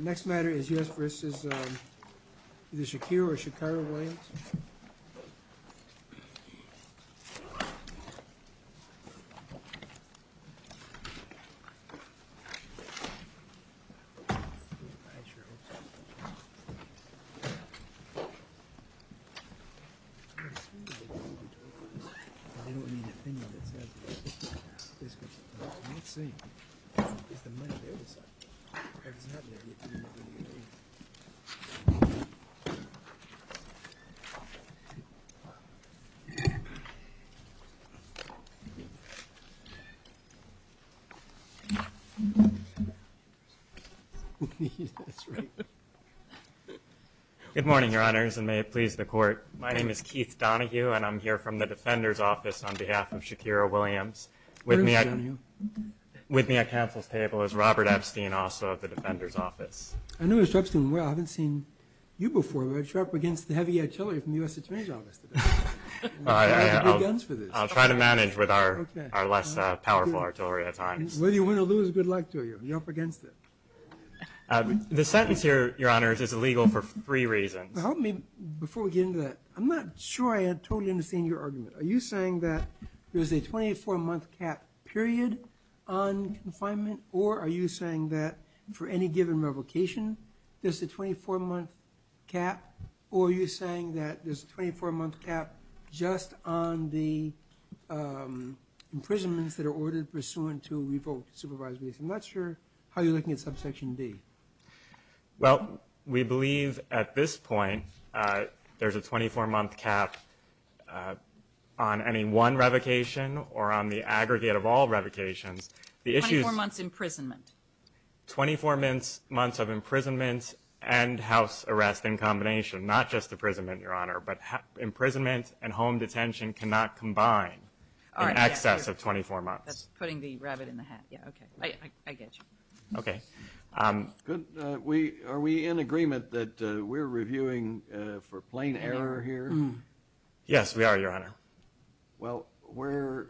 Next matter is U.S. v. Shakir or Shakir-Williams Good morning, Your Honors, and may it please the Court. My name is Keith Donohue, and I'm here from the Defender's Office on behalf of Shakir-Williams. With me at counsel's table is Robert Epstein, also of the Defender's Office. I noticed, Epstein, I haven't seen you before, but you're up against heavy artillery from the U.S. Attorney's Office today. I'll try to manage with our less powerful artillery at times. Whether you win or lose, good luck to you. You're up against it. The sentence here, Your Honors, is illegal for three reasons. Help me before we get into that. I'm not sure I totally understand your argument. Are you saying that there's a 24-month cap period on confinement, or are you saying that for any given revocation, there's a 24-month cap, or are you saying that there's a 24-month cap just on the imprisonments that are ordered pursuant to revoked supervisory. I'm not sure how you're looking at subsection D. Well, we believe at this point there's a 24-month cap on any one revocation or on the aggregate of all revocations. Twenty-four months imprisonment. Twenty-four months of imprisonment and house arrest in combination, not just imprisonment, Your Honor, but imprisonment and home detention cannot combine in excess of 24 months. That's putting the rabbit in the hat. Yeah, okay. I get you. Okay. Good. Are we in agreement that we're reviewing for plain error here? Yes, we are, Your Honor. Well, where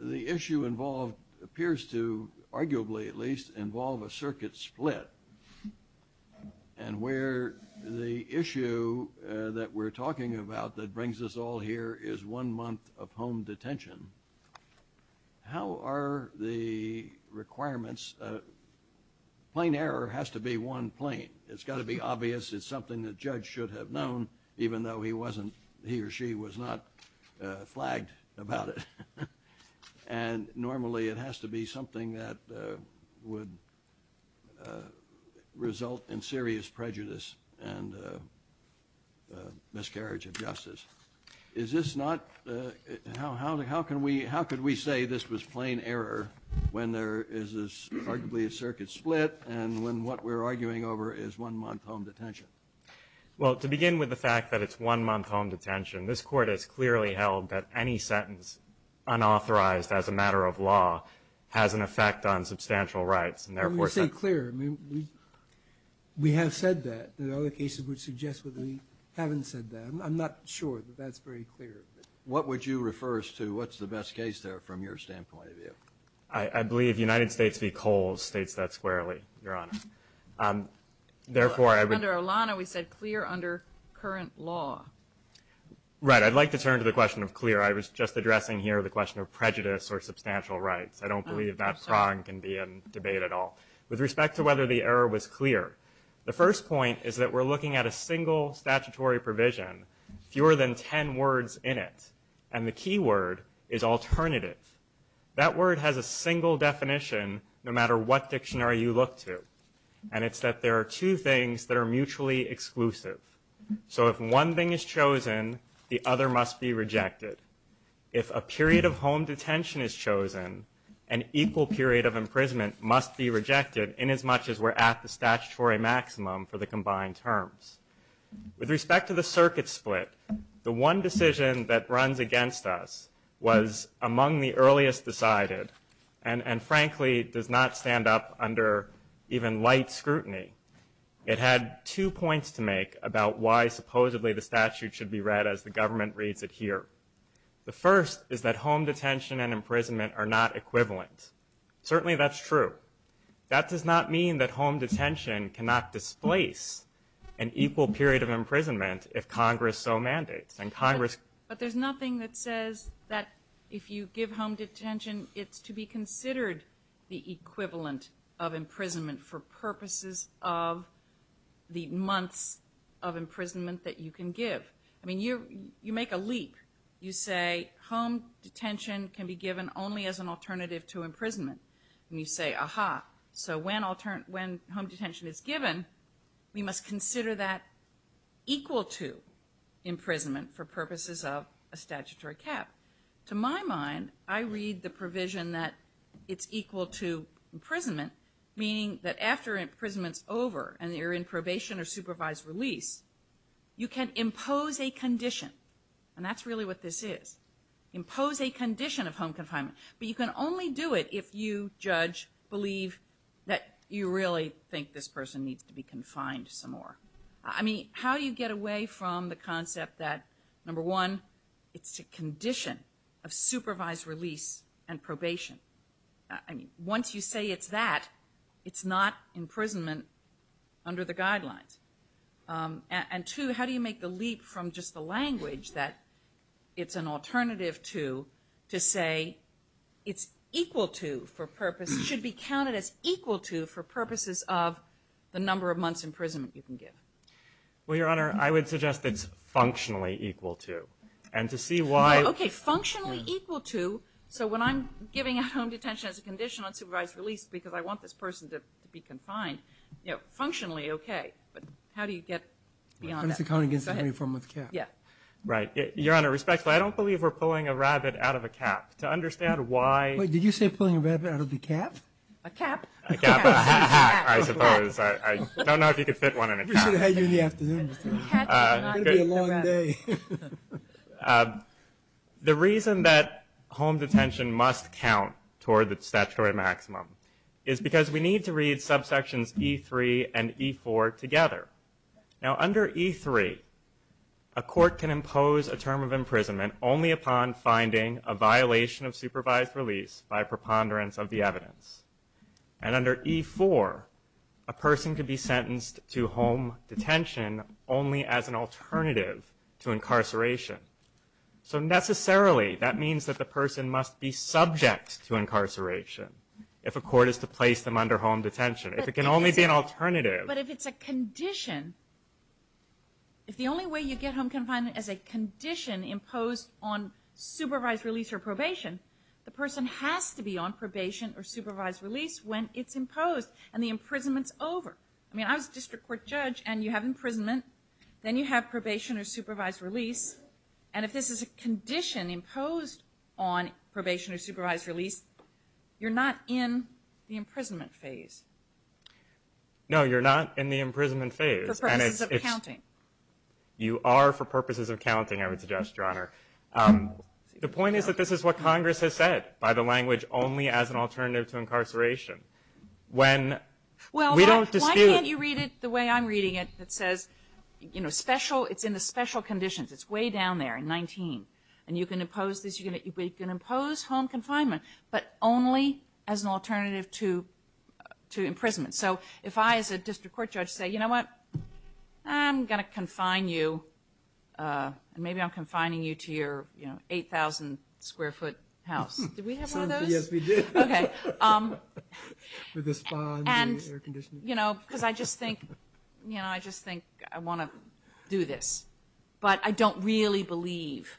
the issue involved appears to arguably at least involve a circuit split and where the issue that we're talking about that brings us all here is one month of home Plain error has to be one plain. It's got to be obvious. It's something the judge should have known even though he wasn't – he or she was not flagged about it. And normally it has to be something that would result in serious prejudice and miscarriage of justice. Is this not – how can we – how could we say this was plain error when there is arguably a circuit split and when what we're arguing over is one month home detention? Well, to begin with the fact that it's one month home detention, this Court has clearly held that any sentence unauthorized as a matter of law has an effect on substantial rights and therefore – Let me be clear. I mean, we have said that. There are other cases which suggest that we haven't said that. I'm not sure that that's very clear. What would you refer us to? What's the best case there from your standpoint of view? I believe United States v. Coles states that squarely, Your Honor. Under Olana we said clear under current law. Right. I'd like to turn to the question of clear. I was just addressing here the question of prejudice or substantial rights. I don't believe that prong can be in debate at all. With respect to whether the error was clear, the first point is that we're looking at a single statutory provision, fewer than 10 words in it. And the key word is alternative. That word has a single definition no matter what dictionary you look to. And it's that there are two things that are mutually exclusive. So if one thing is chosen, the other must be rejected. If a period of home detention is chosen, an equal period of imprisonment must be rejected inasmuch as we're at the statutory maximum for the combined terms. With respect to the circuit split, the one decision that runs against us was among the earliest decided and frankly does not stand up under even light scrutiny. It had two points to make about why supposedly the statute should be read as the government reads it here. The first is that home detention and imprisonment are not equivalent. Certainly that's true. That does not mean that home detention cannot displace an equal period of imprisonment if Congress so mandates. But there's nothing that says that if you give home detention it's to be considered the equivalent of imprisonment for purposes of the months of imprisonment that you can give. I mean, you make a leap. You say home detention can be given only as an alternative to imprisonment. And you say, aha, so when home detention is given, we must consider that equal to imprisonment for purposes of a statutory cap. To my mind, I read the provision that it's equal to imprisonment, meaning that after imprisonment's over and you're in probation or supervised release, you can impose a condition. And that's really what this is. Impose a condition of home confinement. But you can only do it if you, judge, believe that you really think this person needs to be confined some more. I mean, how do you get away from the concept that, number one, it's a condition of supervised release and probation? I mean, once you say it's that, it's not imprisonment under the guidelines. And two, how do you make the leap from just the language that it's an alternative to, to say it's equal to for purposes, should be counted as equal to for purposes of the number of months imprisonment you can give? Well, Your Honor, I would suggest it's functionally equal to. Okay, functionally equal to. So when I'm giving out home detention as a condition on supervised release because I want this person to be confined, you know, functionally, okay. But how do you get beyond that? It has to count against the 24-month cap. Yeah. Right. Your Honor, respectfully, I don't believe we're pulling a rabbit out of a cap. To understand why- Wait, did you say pulling a rabbit out of a cap? A cap. A cap, I suppose. I don't know if you could fit one in a cap. We should have had you in the afternoon. It's going to be a long day. The reason that home detention must count toward the statutory maximum is because we need to read subsections E3 and E4 together. Now under E3, a court can impose a term of imprisonment only upon finding a violation of supervised release by preponderance of the evidence. And under E4, a person could be sentenced to home detention only as an alternative to incarceration. So necessarily, that means that the person must be subject to incarceration if a court is to place them under home detention. If it can only be an alternative- But if it's a condition, if the only way you get home confinement is a condition imposed on supervised release or probation, the person has to be on probation or supervised release when it's imposed and the imprisonment's over. I mean, I was a district court judge and you have imprisonment, then you have probation or supervised release, and if this is a condition imposed on probation or supervised release, you're not in the imprisonment phase. No, you're not in the imprisonment phase. For purposes of counting. You are for purposes of counting, I would suggest, Your Honor. The point is that this is what Congress has said, by the language only as an alternative to incarceration. Well, why can't you read it the way I'm reading it that says, you know, special, it's in the special conditions. It's way down there in 19. And you can impose this, you can impose home confinement, but only as an alternative to imprisonment. So if I, as a district court judge, say, you know what, I'm going to confine you, and maybe I'm confining you to your, you know, 8,000 square foot house. Did we have one of those? Yes, we did. Okay. With a spa and air conditioning. You know, because I just think, you know, I just think I want to do this. But I don't really believe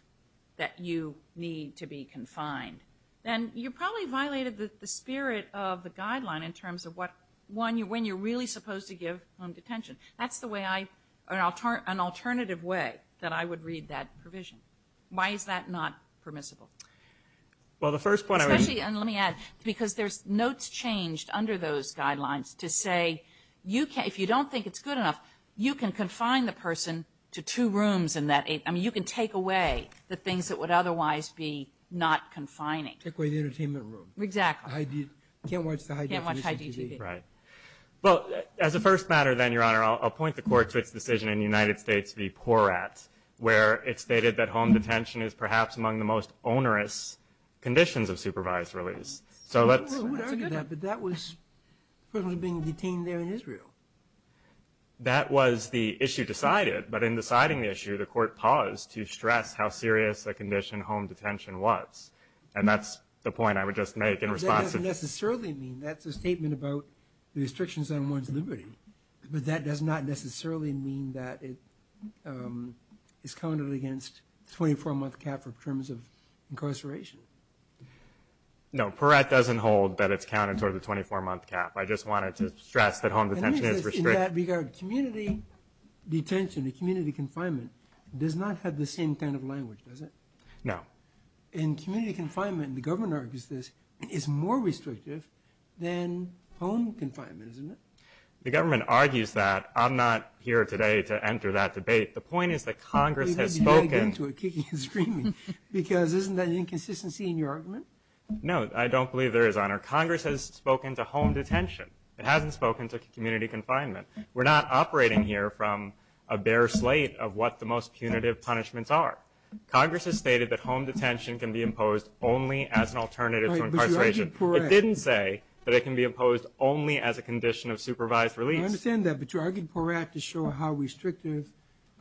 that you need to be confined. And you probably violated the spirit of the guideline in terms of what, when you're really supposed to give home detention. That's the way I, an alternative way that I would read that provision. Why is that not permissible? Well, the first point I would. Especially, and let me add, because there's notes changed under those guidelines to say, if you don't think it's good enough, you can confine the person to two rooms in that, I mean, you can take away the things that would otherwise be not confining. Take away the entertainment room. Exactly. Can't watch the high definition TV. Right. Well, as a first matter then, Your Honor, I'll point the court to its decision in the United States v. Porat, where it stated that home detention is perhaps among the most onerous conditions of supervised release. So let's. I would argue that. But that was, the person was being detained there in Israel. That was the issue decided. But in deciding the issue, the court paused to stress how serious a condition home detention was. And that's the point I would just make in response to. But that doesn't necessarily mean, that's a statement about the restrictions on one's liberty. But that does not necessarily mean that it is counted against 24-month cap for terms of incarceration. No. Porat doesn't hold that it's counted toward the 24-month cap. I just wanted to stress that home detention is restricted. In that regard, community detention, community confinement does not have the same kind of language, does it? No. In community confinement, the government argues this is more restrictive than home confinement, isn't it? The government argues that. I'm not here today to enter that debate. The point is that Congress has spoken. You're getting into it, kicking and screaming. Because isn't that an inconsistency in your argument? No, I don't believe there is, Honor. Congress has spoken to home detention. It hasn't spoken to community confinement. We're not operating here from a bare slate of what the most punitive punishments are. Congress has stated that home detention can be imposed only as an alternative to incarceration. But you argued Porat. Congress didn't say that it can be imposed only as a condition of supervised release. I understand that. But you argued Porat to show how restrictive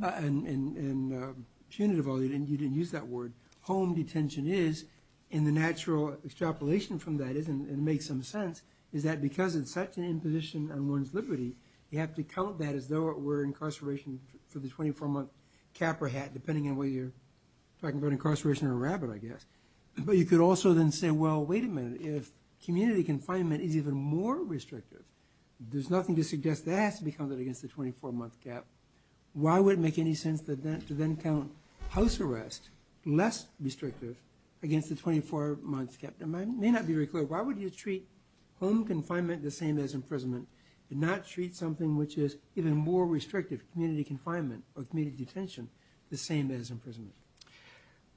and punitive, although you didn't use that word, home detention is, and the natural extrapolation from that, and it makes some sense, is that because it's such an imposition on one's liberty, you have to count that as though it were incarceration for the 24-month cap or hat, depending on whether you're talking about incarceration or a rabbit, I guess. But you could also then say, well, wait a minute. If community confinement is even more restrictive, there's nothing to suggest that has to be counted against the 24-month cap. Why would it make any sense to then count house arrest, less restrictive, against the 24-month cap? That may not be very clear. Why would you treat home confinement the same as imprisonment and not treat something which is even more restrictive, community confinement or community detention, the same as imprisonment?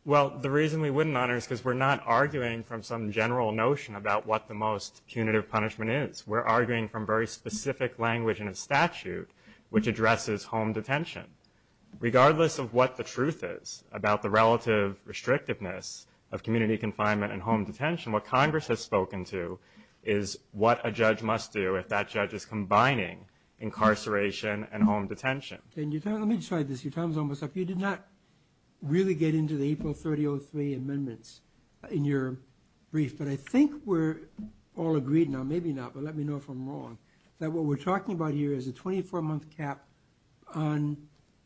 Well, the reason we wouldn't, Honor, is because we're not arguing from some general notion about what the most punitive punishment is. We're arguing from very specific language in a statute which addresses home detention. Regardless of what the truth is about the relative restrictiveness of community confinement and home detention, what Congress has spoken to is what a judge must do if that judge is combining incarceration and home detention. Let me just try this. Your time is almost up. You did not really get into the April 3003 amendments in your brief, but I think we're all agreed now, maybe not, but let me know if I'm wrong, that what we're talking about here is a 24-month cap on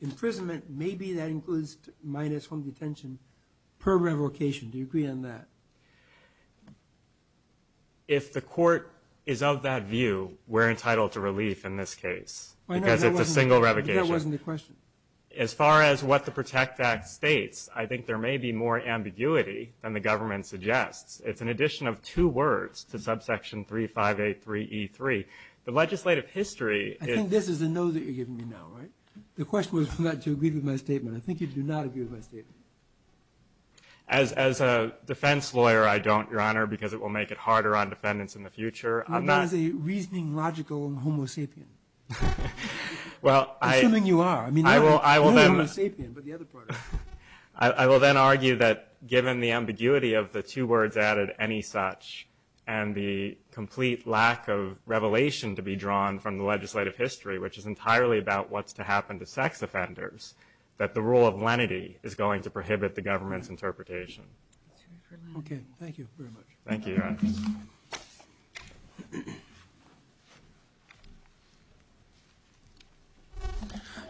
imprisonment. Maybe that includes minus home detention per revocation. Do you agree on that? If the court is of that view, we're entitled to relief in this case because it's a single revocation. That wasn't the question. As far as what the PROTECT Act states, I think there may be more ambiguity than the government suggests. It's an addition of two words to subsection 3583E3. The legislative history – I think this is a no that you're giving me now, right? The question was whether you agreed with my statement. I think you do not agree with my statement. As a defense lawyer, I don't, Your Honor, because it will make it harder on defendants in the future. I'm not – You're not a reasoning, logical, and homo sapien. Assuming you are. I'm not a sapien, but the other part is. I will then argue that given the ambiguity of the two words added, any such, and the complete lack of revelation to be drawn from the legislative history, which is entirely about what's to happen to sex offenders, that the rule of lenity is going to prohibit the government's interpretation. Okay. Thank you very much. Thank you, Your Honor.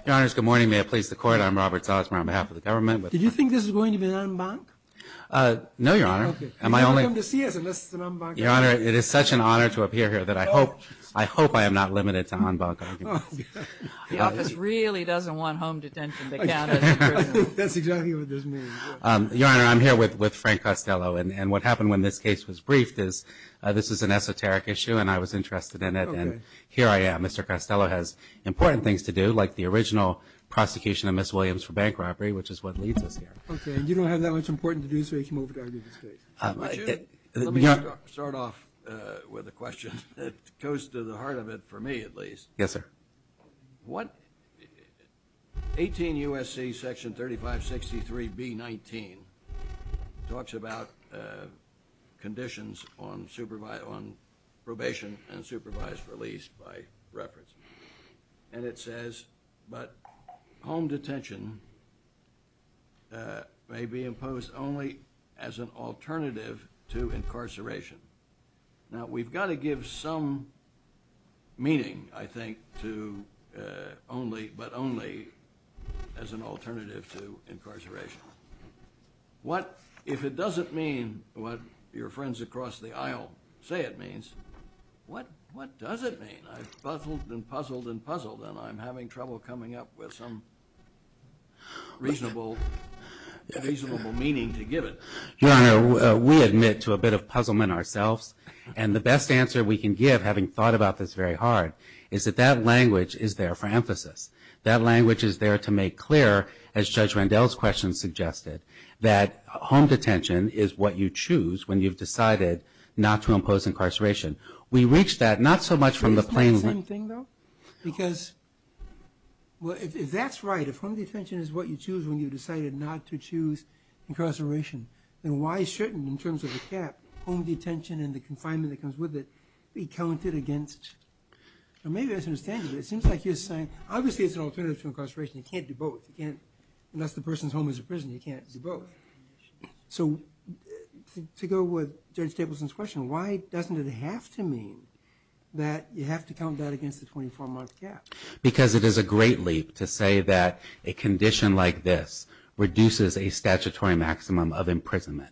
Your Honors, good morning. May it please the Court. I'm Robert Salzman on behalf of the government. Did you think this was going to be an en banc? No, Your Honor. Okay. You're not welcome to see us unless it's an en banc argument. Your Honor, it is such an honor to appear here that I hope – I hope I am not limited to en banc arguments. The office really doesn't want home detention to count as a prison. That's exactly what this means. Your Honor, I'm here with Frank Costello, and what happened when this case was briefed is this is an esoteric issue, and I was interested in it. Okay. So here I am. Mr. Costello has important things to do, like the original prosecution of Ms. Williams for bank robbery, which is what leads us here. Okay. And you don't have that much important to do, so you can move it over to this case. Let me start off with a question that goes to the heart of it, for me at least. Yes, sir. What – 18 U.S.C. Section 3563B19 talks about conditions on probation and supervised release by reference, and it says, but home detention may be imposed only as an alternative to incarceration. Now, we've got to give some meaning, I think, to only – but only as an alternative to incarceration. What – if it doesn't mean what your friends across the aisle say it means, what does it mean? I've puzzled and puzzled and puzzled, and I'm having trouble coming up with some reasonable meaning to give it. Your Honor, we admit to a bit of puzzlement ourselves, and the best answer we can give, having thought about this very hard, is that that language is there for emphasis. That language is there to make clear, as Judge Randell's question suggested, that home detention is what you choose when you've decided not to impose incarceration. We reach that not so much from the plain language – Isn't that the same thing, though? Because – well, if that's right, if home detention is what you choose when you've decided not to choose incarceration, then why shouldn't, in terms of the cap, home detention and the confinement that comes with it be counted against – or maybe I just don't understand you, but it seems like you're saying, obviously it's an alternative to incarceration. You can't do both. You can't – unless the person's home is a prison, you can't do both. So to go with Judge Stapleson's question, why doesn't it have to mean that you have to count that against the 24-month cap? Because it is a great leap to say that a condition like this reduces a statutory maximum of imprisonment,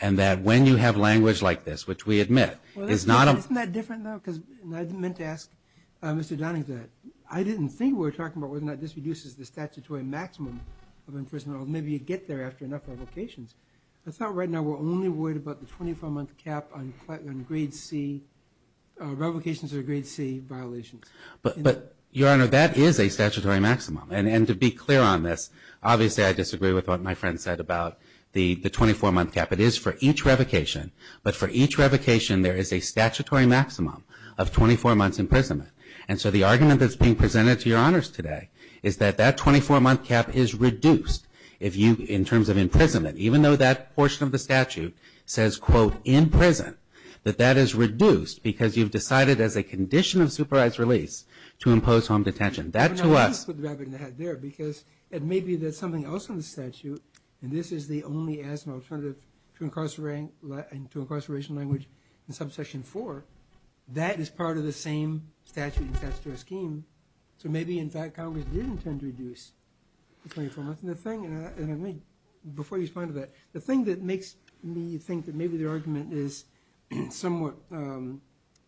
and that when you have language like this, which we admit is not a – Isn't that different, though? Because I meant to ask Mr. Downing that. I didn't think we were talking about whether or not this reduces the statutory maximum of imprisonment, or maybe you get there after enough revocations. I thought right now we're only worried about the 24-month cap on grade C – revocations or grade C violations. But, Your Honor, that is a statutory maximum. And to be clear on this, obviously I disagree with what my friend said about the 24-month cap. It is for each revocation, but for each revocation there is a statutory maximum of 24 months' imprisonment. And so the argument that's being presented to Your Honors today is that that 24-month cap is reduced in terms of imprisonment, even though that portion of the statute says, quote, in prison, that that is reduced because you've decided, as a condition of supervised release, to impose home detention. That, to us – Now, let me put the rabbit in the hat there, because it may be that something else in the statute – and this is the only asthma alternative to incarceration language in Subsection 4 – that is part of the same statute and statutory scheme. So maybe, in fact, Congress did intend to reduce the 24 months. And the thing – and let me – before you respond to that, the thing that makes me think that maybe the argument is somewhat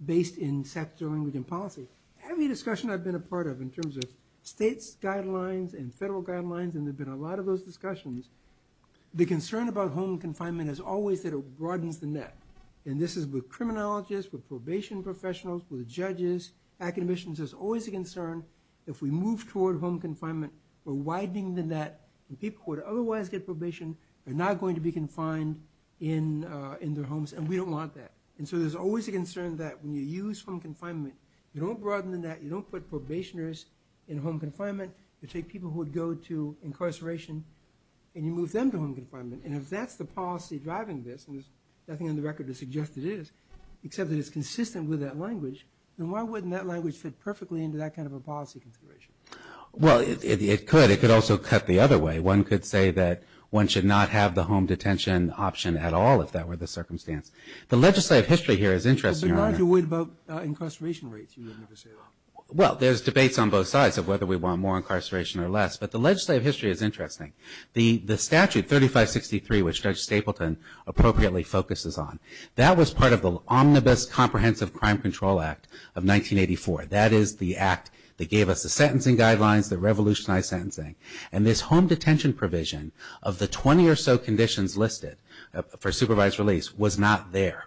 based in sector, language, and policy. Every discussion I've been a part of in terms of states' guidelines and federal guidelines, and there have been a lot of those discussions, the concern about home confinement has always said it broadens the net. And this is with criminologists, with probation professionals, with judges, academicians. There's always a concern if we move toward home confinement, we're widening the net, and people who would otherwise get probation are now going to be confined in their homes, and we don't want that. And so there's always a concern that when you use home confinement, you don't broaden the net, you don't put probationers in home confinement, you take people who would go to incarceration, and you move them to home confinement. And if that's the policy driving this, and there's nothing on the record to suggest it is, except that it's consistent with that language, then why wouldn't that language fit perfectly into that kind of a policy consideration? Well, it could. It could also cut the other way. One could say that one should not have the home detention option at all, if that were the circumstance. The legislative history here is interesting. But aren't you worried about incarceration rates? Well, there's debates on both sides of whether we want more incarceration or less, but the legislative history is interesting. The statute, 3563, which Judge Stapleton appropriately focuses on, that was part of the Omnibus Comprehensive Crime Control Act of 1984. That is the act that gave us the sentencing guidelines, the revolutionized sentencing. And this home detention provision of the 20 or so conditions listed for supervised release was not there.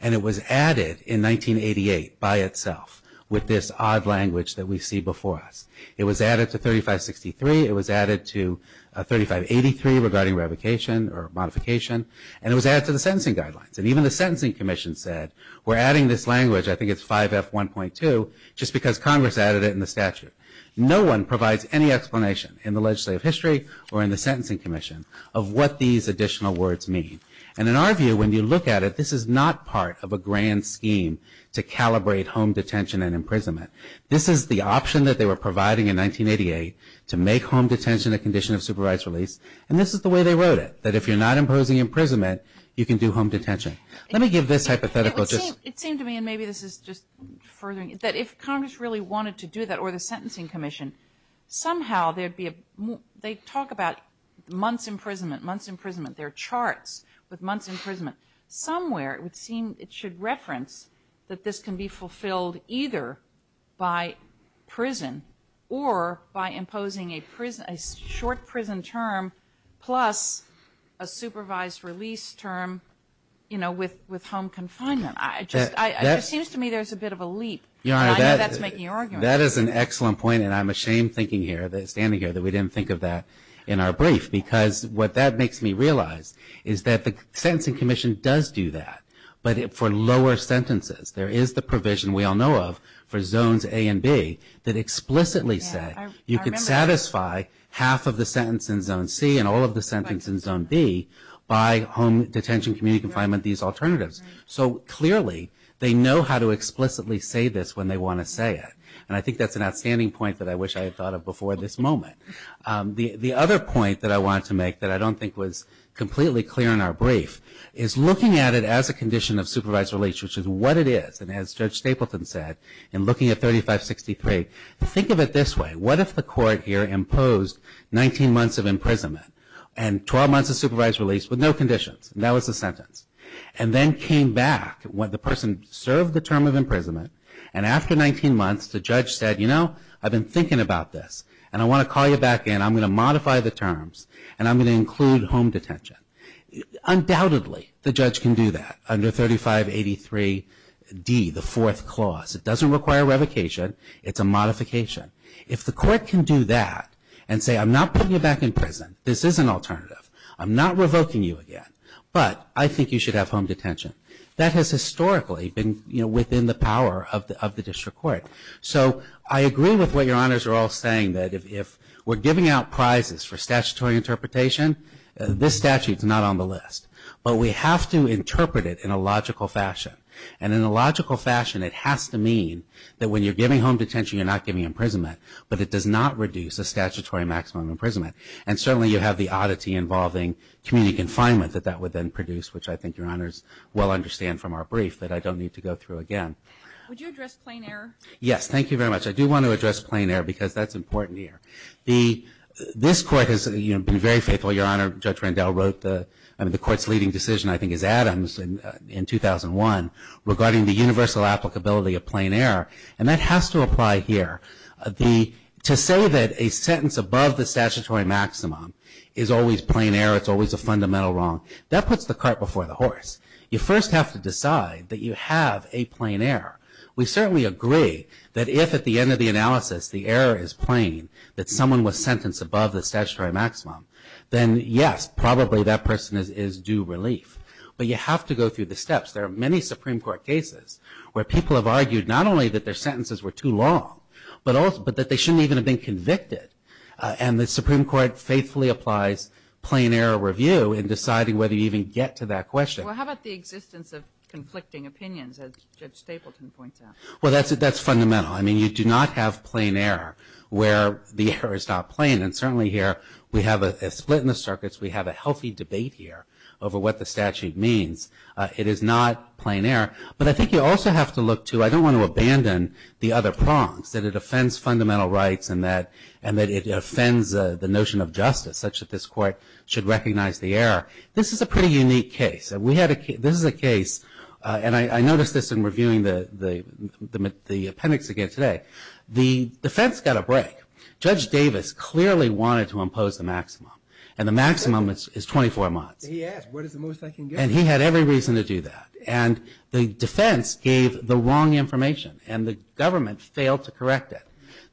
And it was added in 1988 by itself with this odd language that we see before us. It was added to 3563. It was added to 3583 regarding revocation or modification. And it was added to the sentencing guidelines. And even the Sentencing Commission said, we're adding this language, I think it's 5F1.2, just because Congress added it in the statute. No one provides any explanation in the legislative history or in the Sentencing Commission of what these additional words mean. And in our view, when you look at it, this is not part of a grand scheme to calibrate home detention and imprisonment. This is the option that they were providing in 1988 to make home detention a condition of supervised release. And this is the way they wrote it, that if you're not imposing imprisonment, you can do home detention. Let me give this hypothetical just... It seemed to me, and maybe this is just furthering, that if Congress really wanted to do that, or the Sentencing Commission, somehow there'd be a... They talk about months imprisonment, months imprisonment. There are charts with months imprisonment. Somewhere it would seem it should reference that this can be fulfilled either by prison or by imposing a short prison term plus a supervised release term, you know, with home confinement. It seems to me there's a bit of a leap, and I know that's making arguments. That is an excellent point, and I'm ashamed thinking here, standing here, that we didn't think of that in our brief. Because what that makes me realize is that the Sentencing Commission does do that, but for lower sentences. There is the provision we all know of for Zones A and B that explicitly say you can satisfy half of the sentence in Zone C and all of the sentences in Zone B by home detention, community confinement, these alternatives. So clearly, they know how to explicitly say this when they want to say it. And I think that's an outstanding point that I wish I had thought of before this moment. The other point that I wanted to make that I don't think was completely clear in our brief is looking at it as a condition of supervised release, which is what it is. And as Judge Stapleton said, in looking at 3563, think of it this way. What if the court here imposed 19 months of imprisonment and 12 months of supervised release with no conditions? That was the sentence. And then came back when the person served the term of imprisonment and after 19 months the judge said, you know, I've been thinking about this and I want to call you back in. I'm going to modify the terms and I'm going to include home detention. Undoubtedly, the judge can do that under 3583D, the fourth clause. It doesn't require revocation. It's a modification. If the court can do that and say, I'm not putting you back in prison. This is an alternative. I'm not revoking you again. But I think you should have home detention. That has historically been, you know, within the power of the district court. So I agree with what your honors are all saying that if we're giving out prizes for statutory interpretation, this statute is not on the list. But we have to interpret it in a logical fashion. And in a logical fashion, it has to mean that when you're giving home detention, you're not giving imprisonment, but it does not reduce the statutory maximum imprisonment. And certainly you have the oddity involving community confinement that that would then produce, which I think your honors well understand from our brief that I don't need to go through again. Would you address plain error? Yes, thank you very much. I do want to address plain error because that's important here. This court has, you know, been very faithful. Your honor, Judge Randell wrote the court's leading decision, I think, is Adams in 2001 regarding the universal applicability of plain error. And that has to apply here. To say that a sentence above the statutory maximum is always plain error, it's always a fundamental wrong, that puts the cart before the horse. You first have to decide that you have a plain error. We certainly agree that if at the end of the analysis the error is plain, that someone was sentenced above the statutory maximum, then yes, probably that person is due relief. But you have to go through the steps. There are many Supreme Court cases where people have argued not only that their sentences were too long, but that they shouldn't even have been convicted. And the Supreme Court faithfully applies plain error review in deciding whether you even get to that question. Well, how about the existence of conflicting opinions, as Judge Stapleton points out? Well, that's fundamental. I mean, you do not have plain error where the error is not plain. And certainly here we have a split in the circuits. We have a healthy debate here over what the statute means. It is not plain error. But I think you also have to look to, I don't want to abandon the other prongs, that it offends fundamental rights and that it offends the notion of justice, such that this Court should recognize the error. This is a pretty unique case. This is a case, and I noticed this in reviewing the appendix again today. The defense got a break. Judge Davis clearly wanted to impose the maximum, and the maximum is 24 months. He asked, what is the most I can give? And he had every reason to do that. And the defense gave the wrong information, and the government failed to correct it.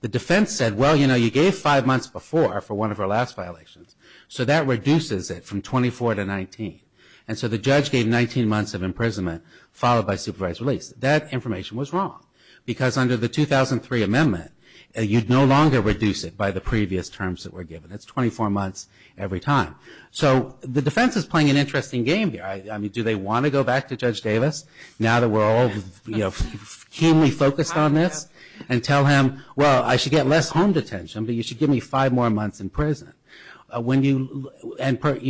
The defense said, well, you know, you gave five months before for one of our last violations, so that reduces it from 24 to 19. And so the judge gave 19 months of imprisonment, followed by supervised release. That information was wrong, because under the 2003 amendment, you'd no longer reduce it by the previous terms that were given. It's 24 months every time. So the defense is playing an interesting game here. I mean, do they want to go back to Judge Davis, now that we're all, you know, keenly focused on this, and tell him, well, I should get less home detention, but you should give me five more months in prison? And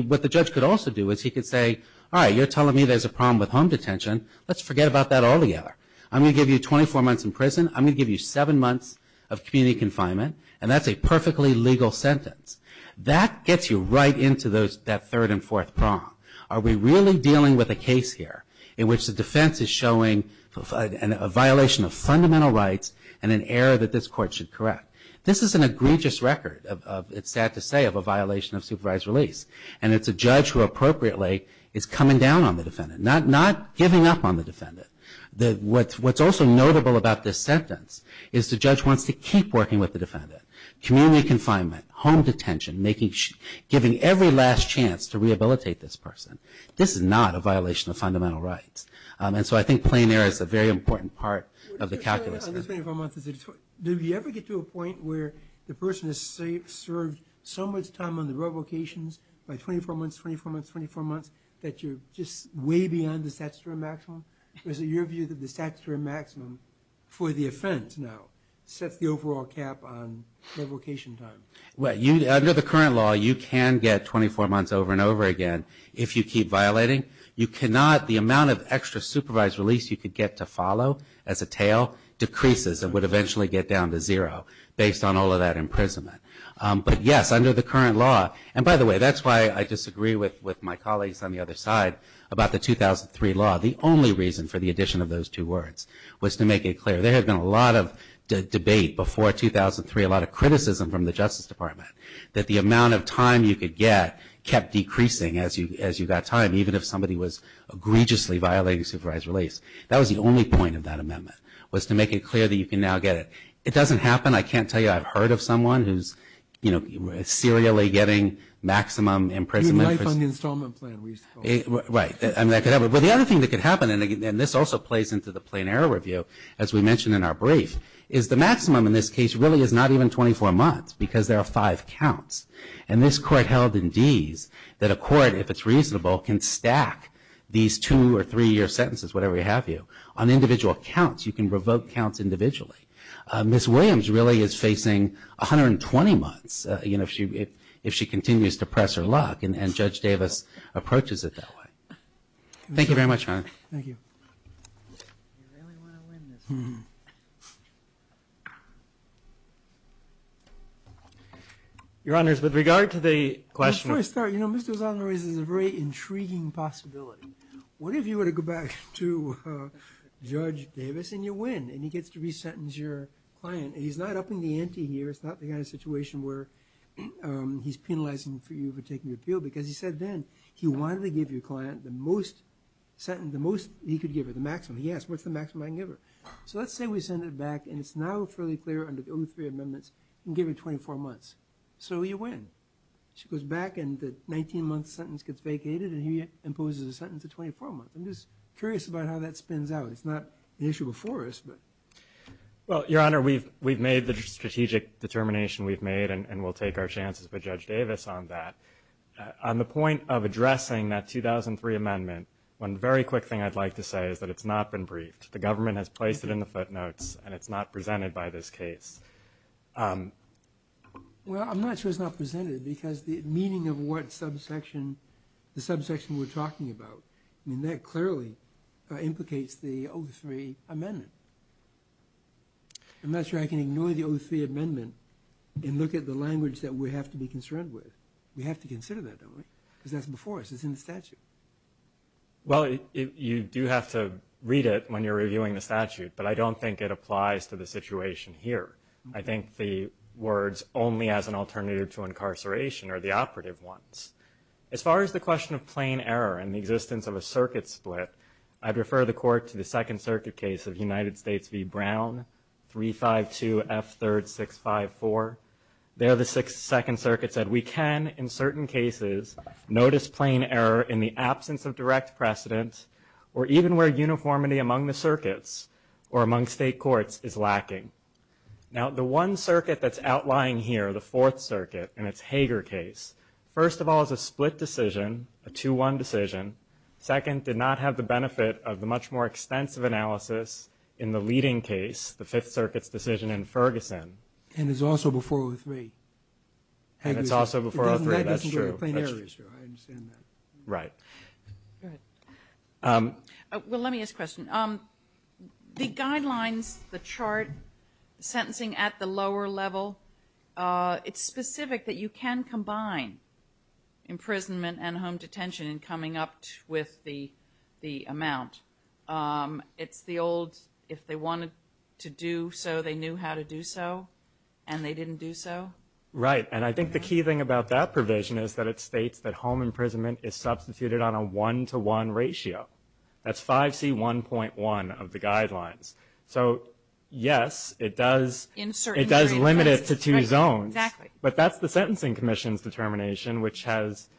what the judge could also do is he could say, all right, you're telling me there's a problem with home detention. Let's forget about that altogether. I'm going to give you 24 months in prison. I'm going to give you seven months of community confinement, and that's a perfectly legal sentence. That gets you right into that third and fourth prong. Are we really dealing with a case here in which the defense is showing a violation of fundamental rights and an error that this court should correct? This is an egregious record, it's sad to say, of a violation of supervised release. And it's a judge who appropriately is coming down on the defendant, not giving up on the defendant. What's also notable about this sentence is the judge wants to keep working with the defendant. Community confinement, home detention, giving every last chance to rehabilitate this person. This is not a violation of fundamental rights. And so I think plain error is a very important part of the calculus. Do you ever get to a point where the person has served so much time on the revocations, like 24 months, 24 months, 24 months, that you're just way beyond the statutory maximum? Or is it your view that the statutory maximum for the offense now sets the overall cap on revocation time? Under the current law, you can get 24 months over and over again if you keep violating. You cannot, the amount of extra supervised release you could get to follow as a tail decreases and would eventually get down to zero based on all of that imprisonment. But yes, under the current law, and by the way, that's why I disagree with my colleagues on the other side about the 2003 law. The only reason for the addition of those two words was to make it clear. There had been a lot of debate before 2003, a lot of criticism from the Justice Department, that the amount of time you could get kept decreasing as you got time, even if somebody was egregiously violating supervised release. That was the only point of that amendment, was to make it clear that you can now get it. It doesn't happen. I can't tell you I've heard of someone who's serially getting maximum imprisonment. Right. Well, the other thing that could happen, and this also plays into the plain error review, as we mentioned in our brief, is the maximum in this case really is not even 24 months, because there are five counts. And this court held in these that a court, if it's reasonable, can stack these two or three year sentences, whatever have you, on individual counts. You can revoke counts individually. Ms. Williams really is facing 120 months, you know, if she continues to press her luck, and Judge Davis approaches it that way. Thank you very much. Thank you. You really want to win this one. Your Honors, with regard to the question. Before I start, you know, Mr. O'Sullivan raises a very intriguing possibility. What if you were to go back to Judge Davis and you win, and he gets to re-sentence your client, and he's not upping the ante here, it's not the kind of situation where he's penalizing you for taking the appeal, because he said then he wanted to give your client the most he could give her, the maximum. He asked, what's the maximum I can give her? So let's say we send it back, and it's now fairly clear under the 2003 amendments, you can give her 24 months. So you win. She goes back, and the 19-month sentence gets vacated, and he imposes a sentence of 24 months. I'm just curious about how that spins out. It's not the issue before us, but. Well, Your Honor, we've made the strategic determination we've made, and we'll take our chances with Judge Davis on that. On the point of addressing that 2003 amendment, one very quick thing I'd like to say is that it's not been briefed. The government has placed it in the footnotes, and it's not presented by this case. Well, I'm not sure it's not presented, because the meaning of what subsection we're talking about, I mean, that clearly implicates the 2003 amendment. We have to consider that, though, right? Because that's before us. It's in the statute. Well, you do have to read it when you're reviewing the statute, but I don't think it applies to the situation here. I think the words only as an alternative to incarceration are the operative ones. As far as the question of plain error and the existence of a circuit split, I'd refer the Court to the Second Circuit case of United States v. Brown, 352F3654. There the Second Circuit said, We can, in certain cases, notice plain error in the absence of direct precedent or even where uniformity among the circuits or among state courts is lacking. Now, the one circuit that's outlying here, the Fourth Circuit, in its Hager case, first of all, is a split decision, a 2-1 decision. Second, did not have the benefit of the much more extensive analysis in the leading case, the Fifth Circuit's decision in Ferguson. And it's also before O3. It's also before O3, that's true. It doesn't have to be a plain error issue, I understand that. Right. All right. Well, let me ask a question. The guidelines, the chart, sentencing at the lower level, it's specific that you can combine imprisonment and home detention in coming up with the amount. It's the old, if they wanted to do so, they knew how to do so, and they didn't do so? Right. And I think the key thing about that provision is that it states that home imprisonment is substituted on a 1-to-1 ratio. That's 5C1.1 of the guidelines. So, yes, it does limit it to two zones. Exactly. But that's the Sentencing Commission's determination, which has,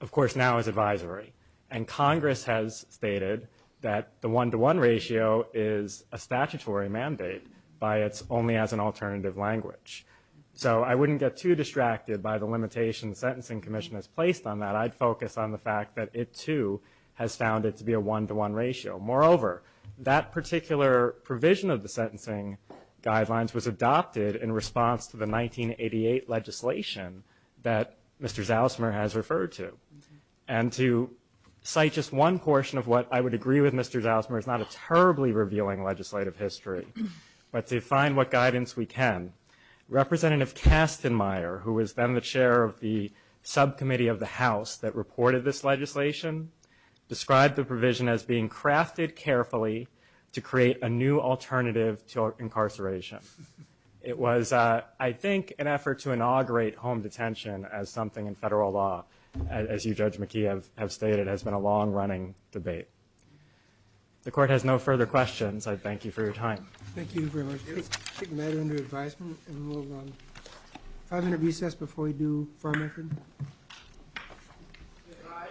of course, now is advisory. And Congress has stated that the 1-to-1 ratio is a statutory mandate by its only as an alternative language. So I wouldn't get too distracted by the limitations the Sentencing Commission has placed on that. I'd focus on the fact that it, too, has found it to be a 1-to-1 ratio. Moreover, that particular provision of the sentencing guidelines was adopted in response to the 1988 legislation that Mr. Zalismer has referred to. And to cite just one portion of what I would agree with Mr. Zalismer, it's not a terribly revealing legislative history, but to find what guidance we can, Representative Kastenmeier, who was then the chair of the subcommittee of the House that reported this legislation, described the provision as being crafted carefully to create a new alternative to incarceration. It was, I think, an effort to inaugurate home detention as something in federal law, as you, Judge McKee, have stated. It has been a long-running debate. If the Court has no further questions, I thank you for your time. Thank you very much. Let's take a matter under advisement and we'll move on. 500 recess before we do firm effort.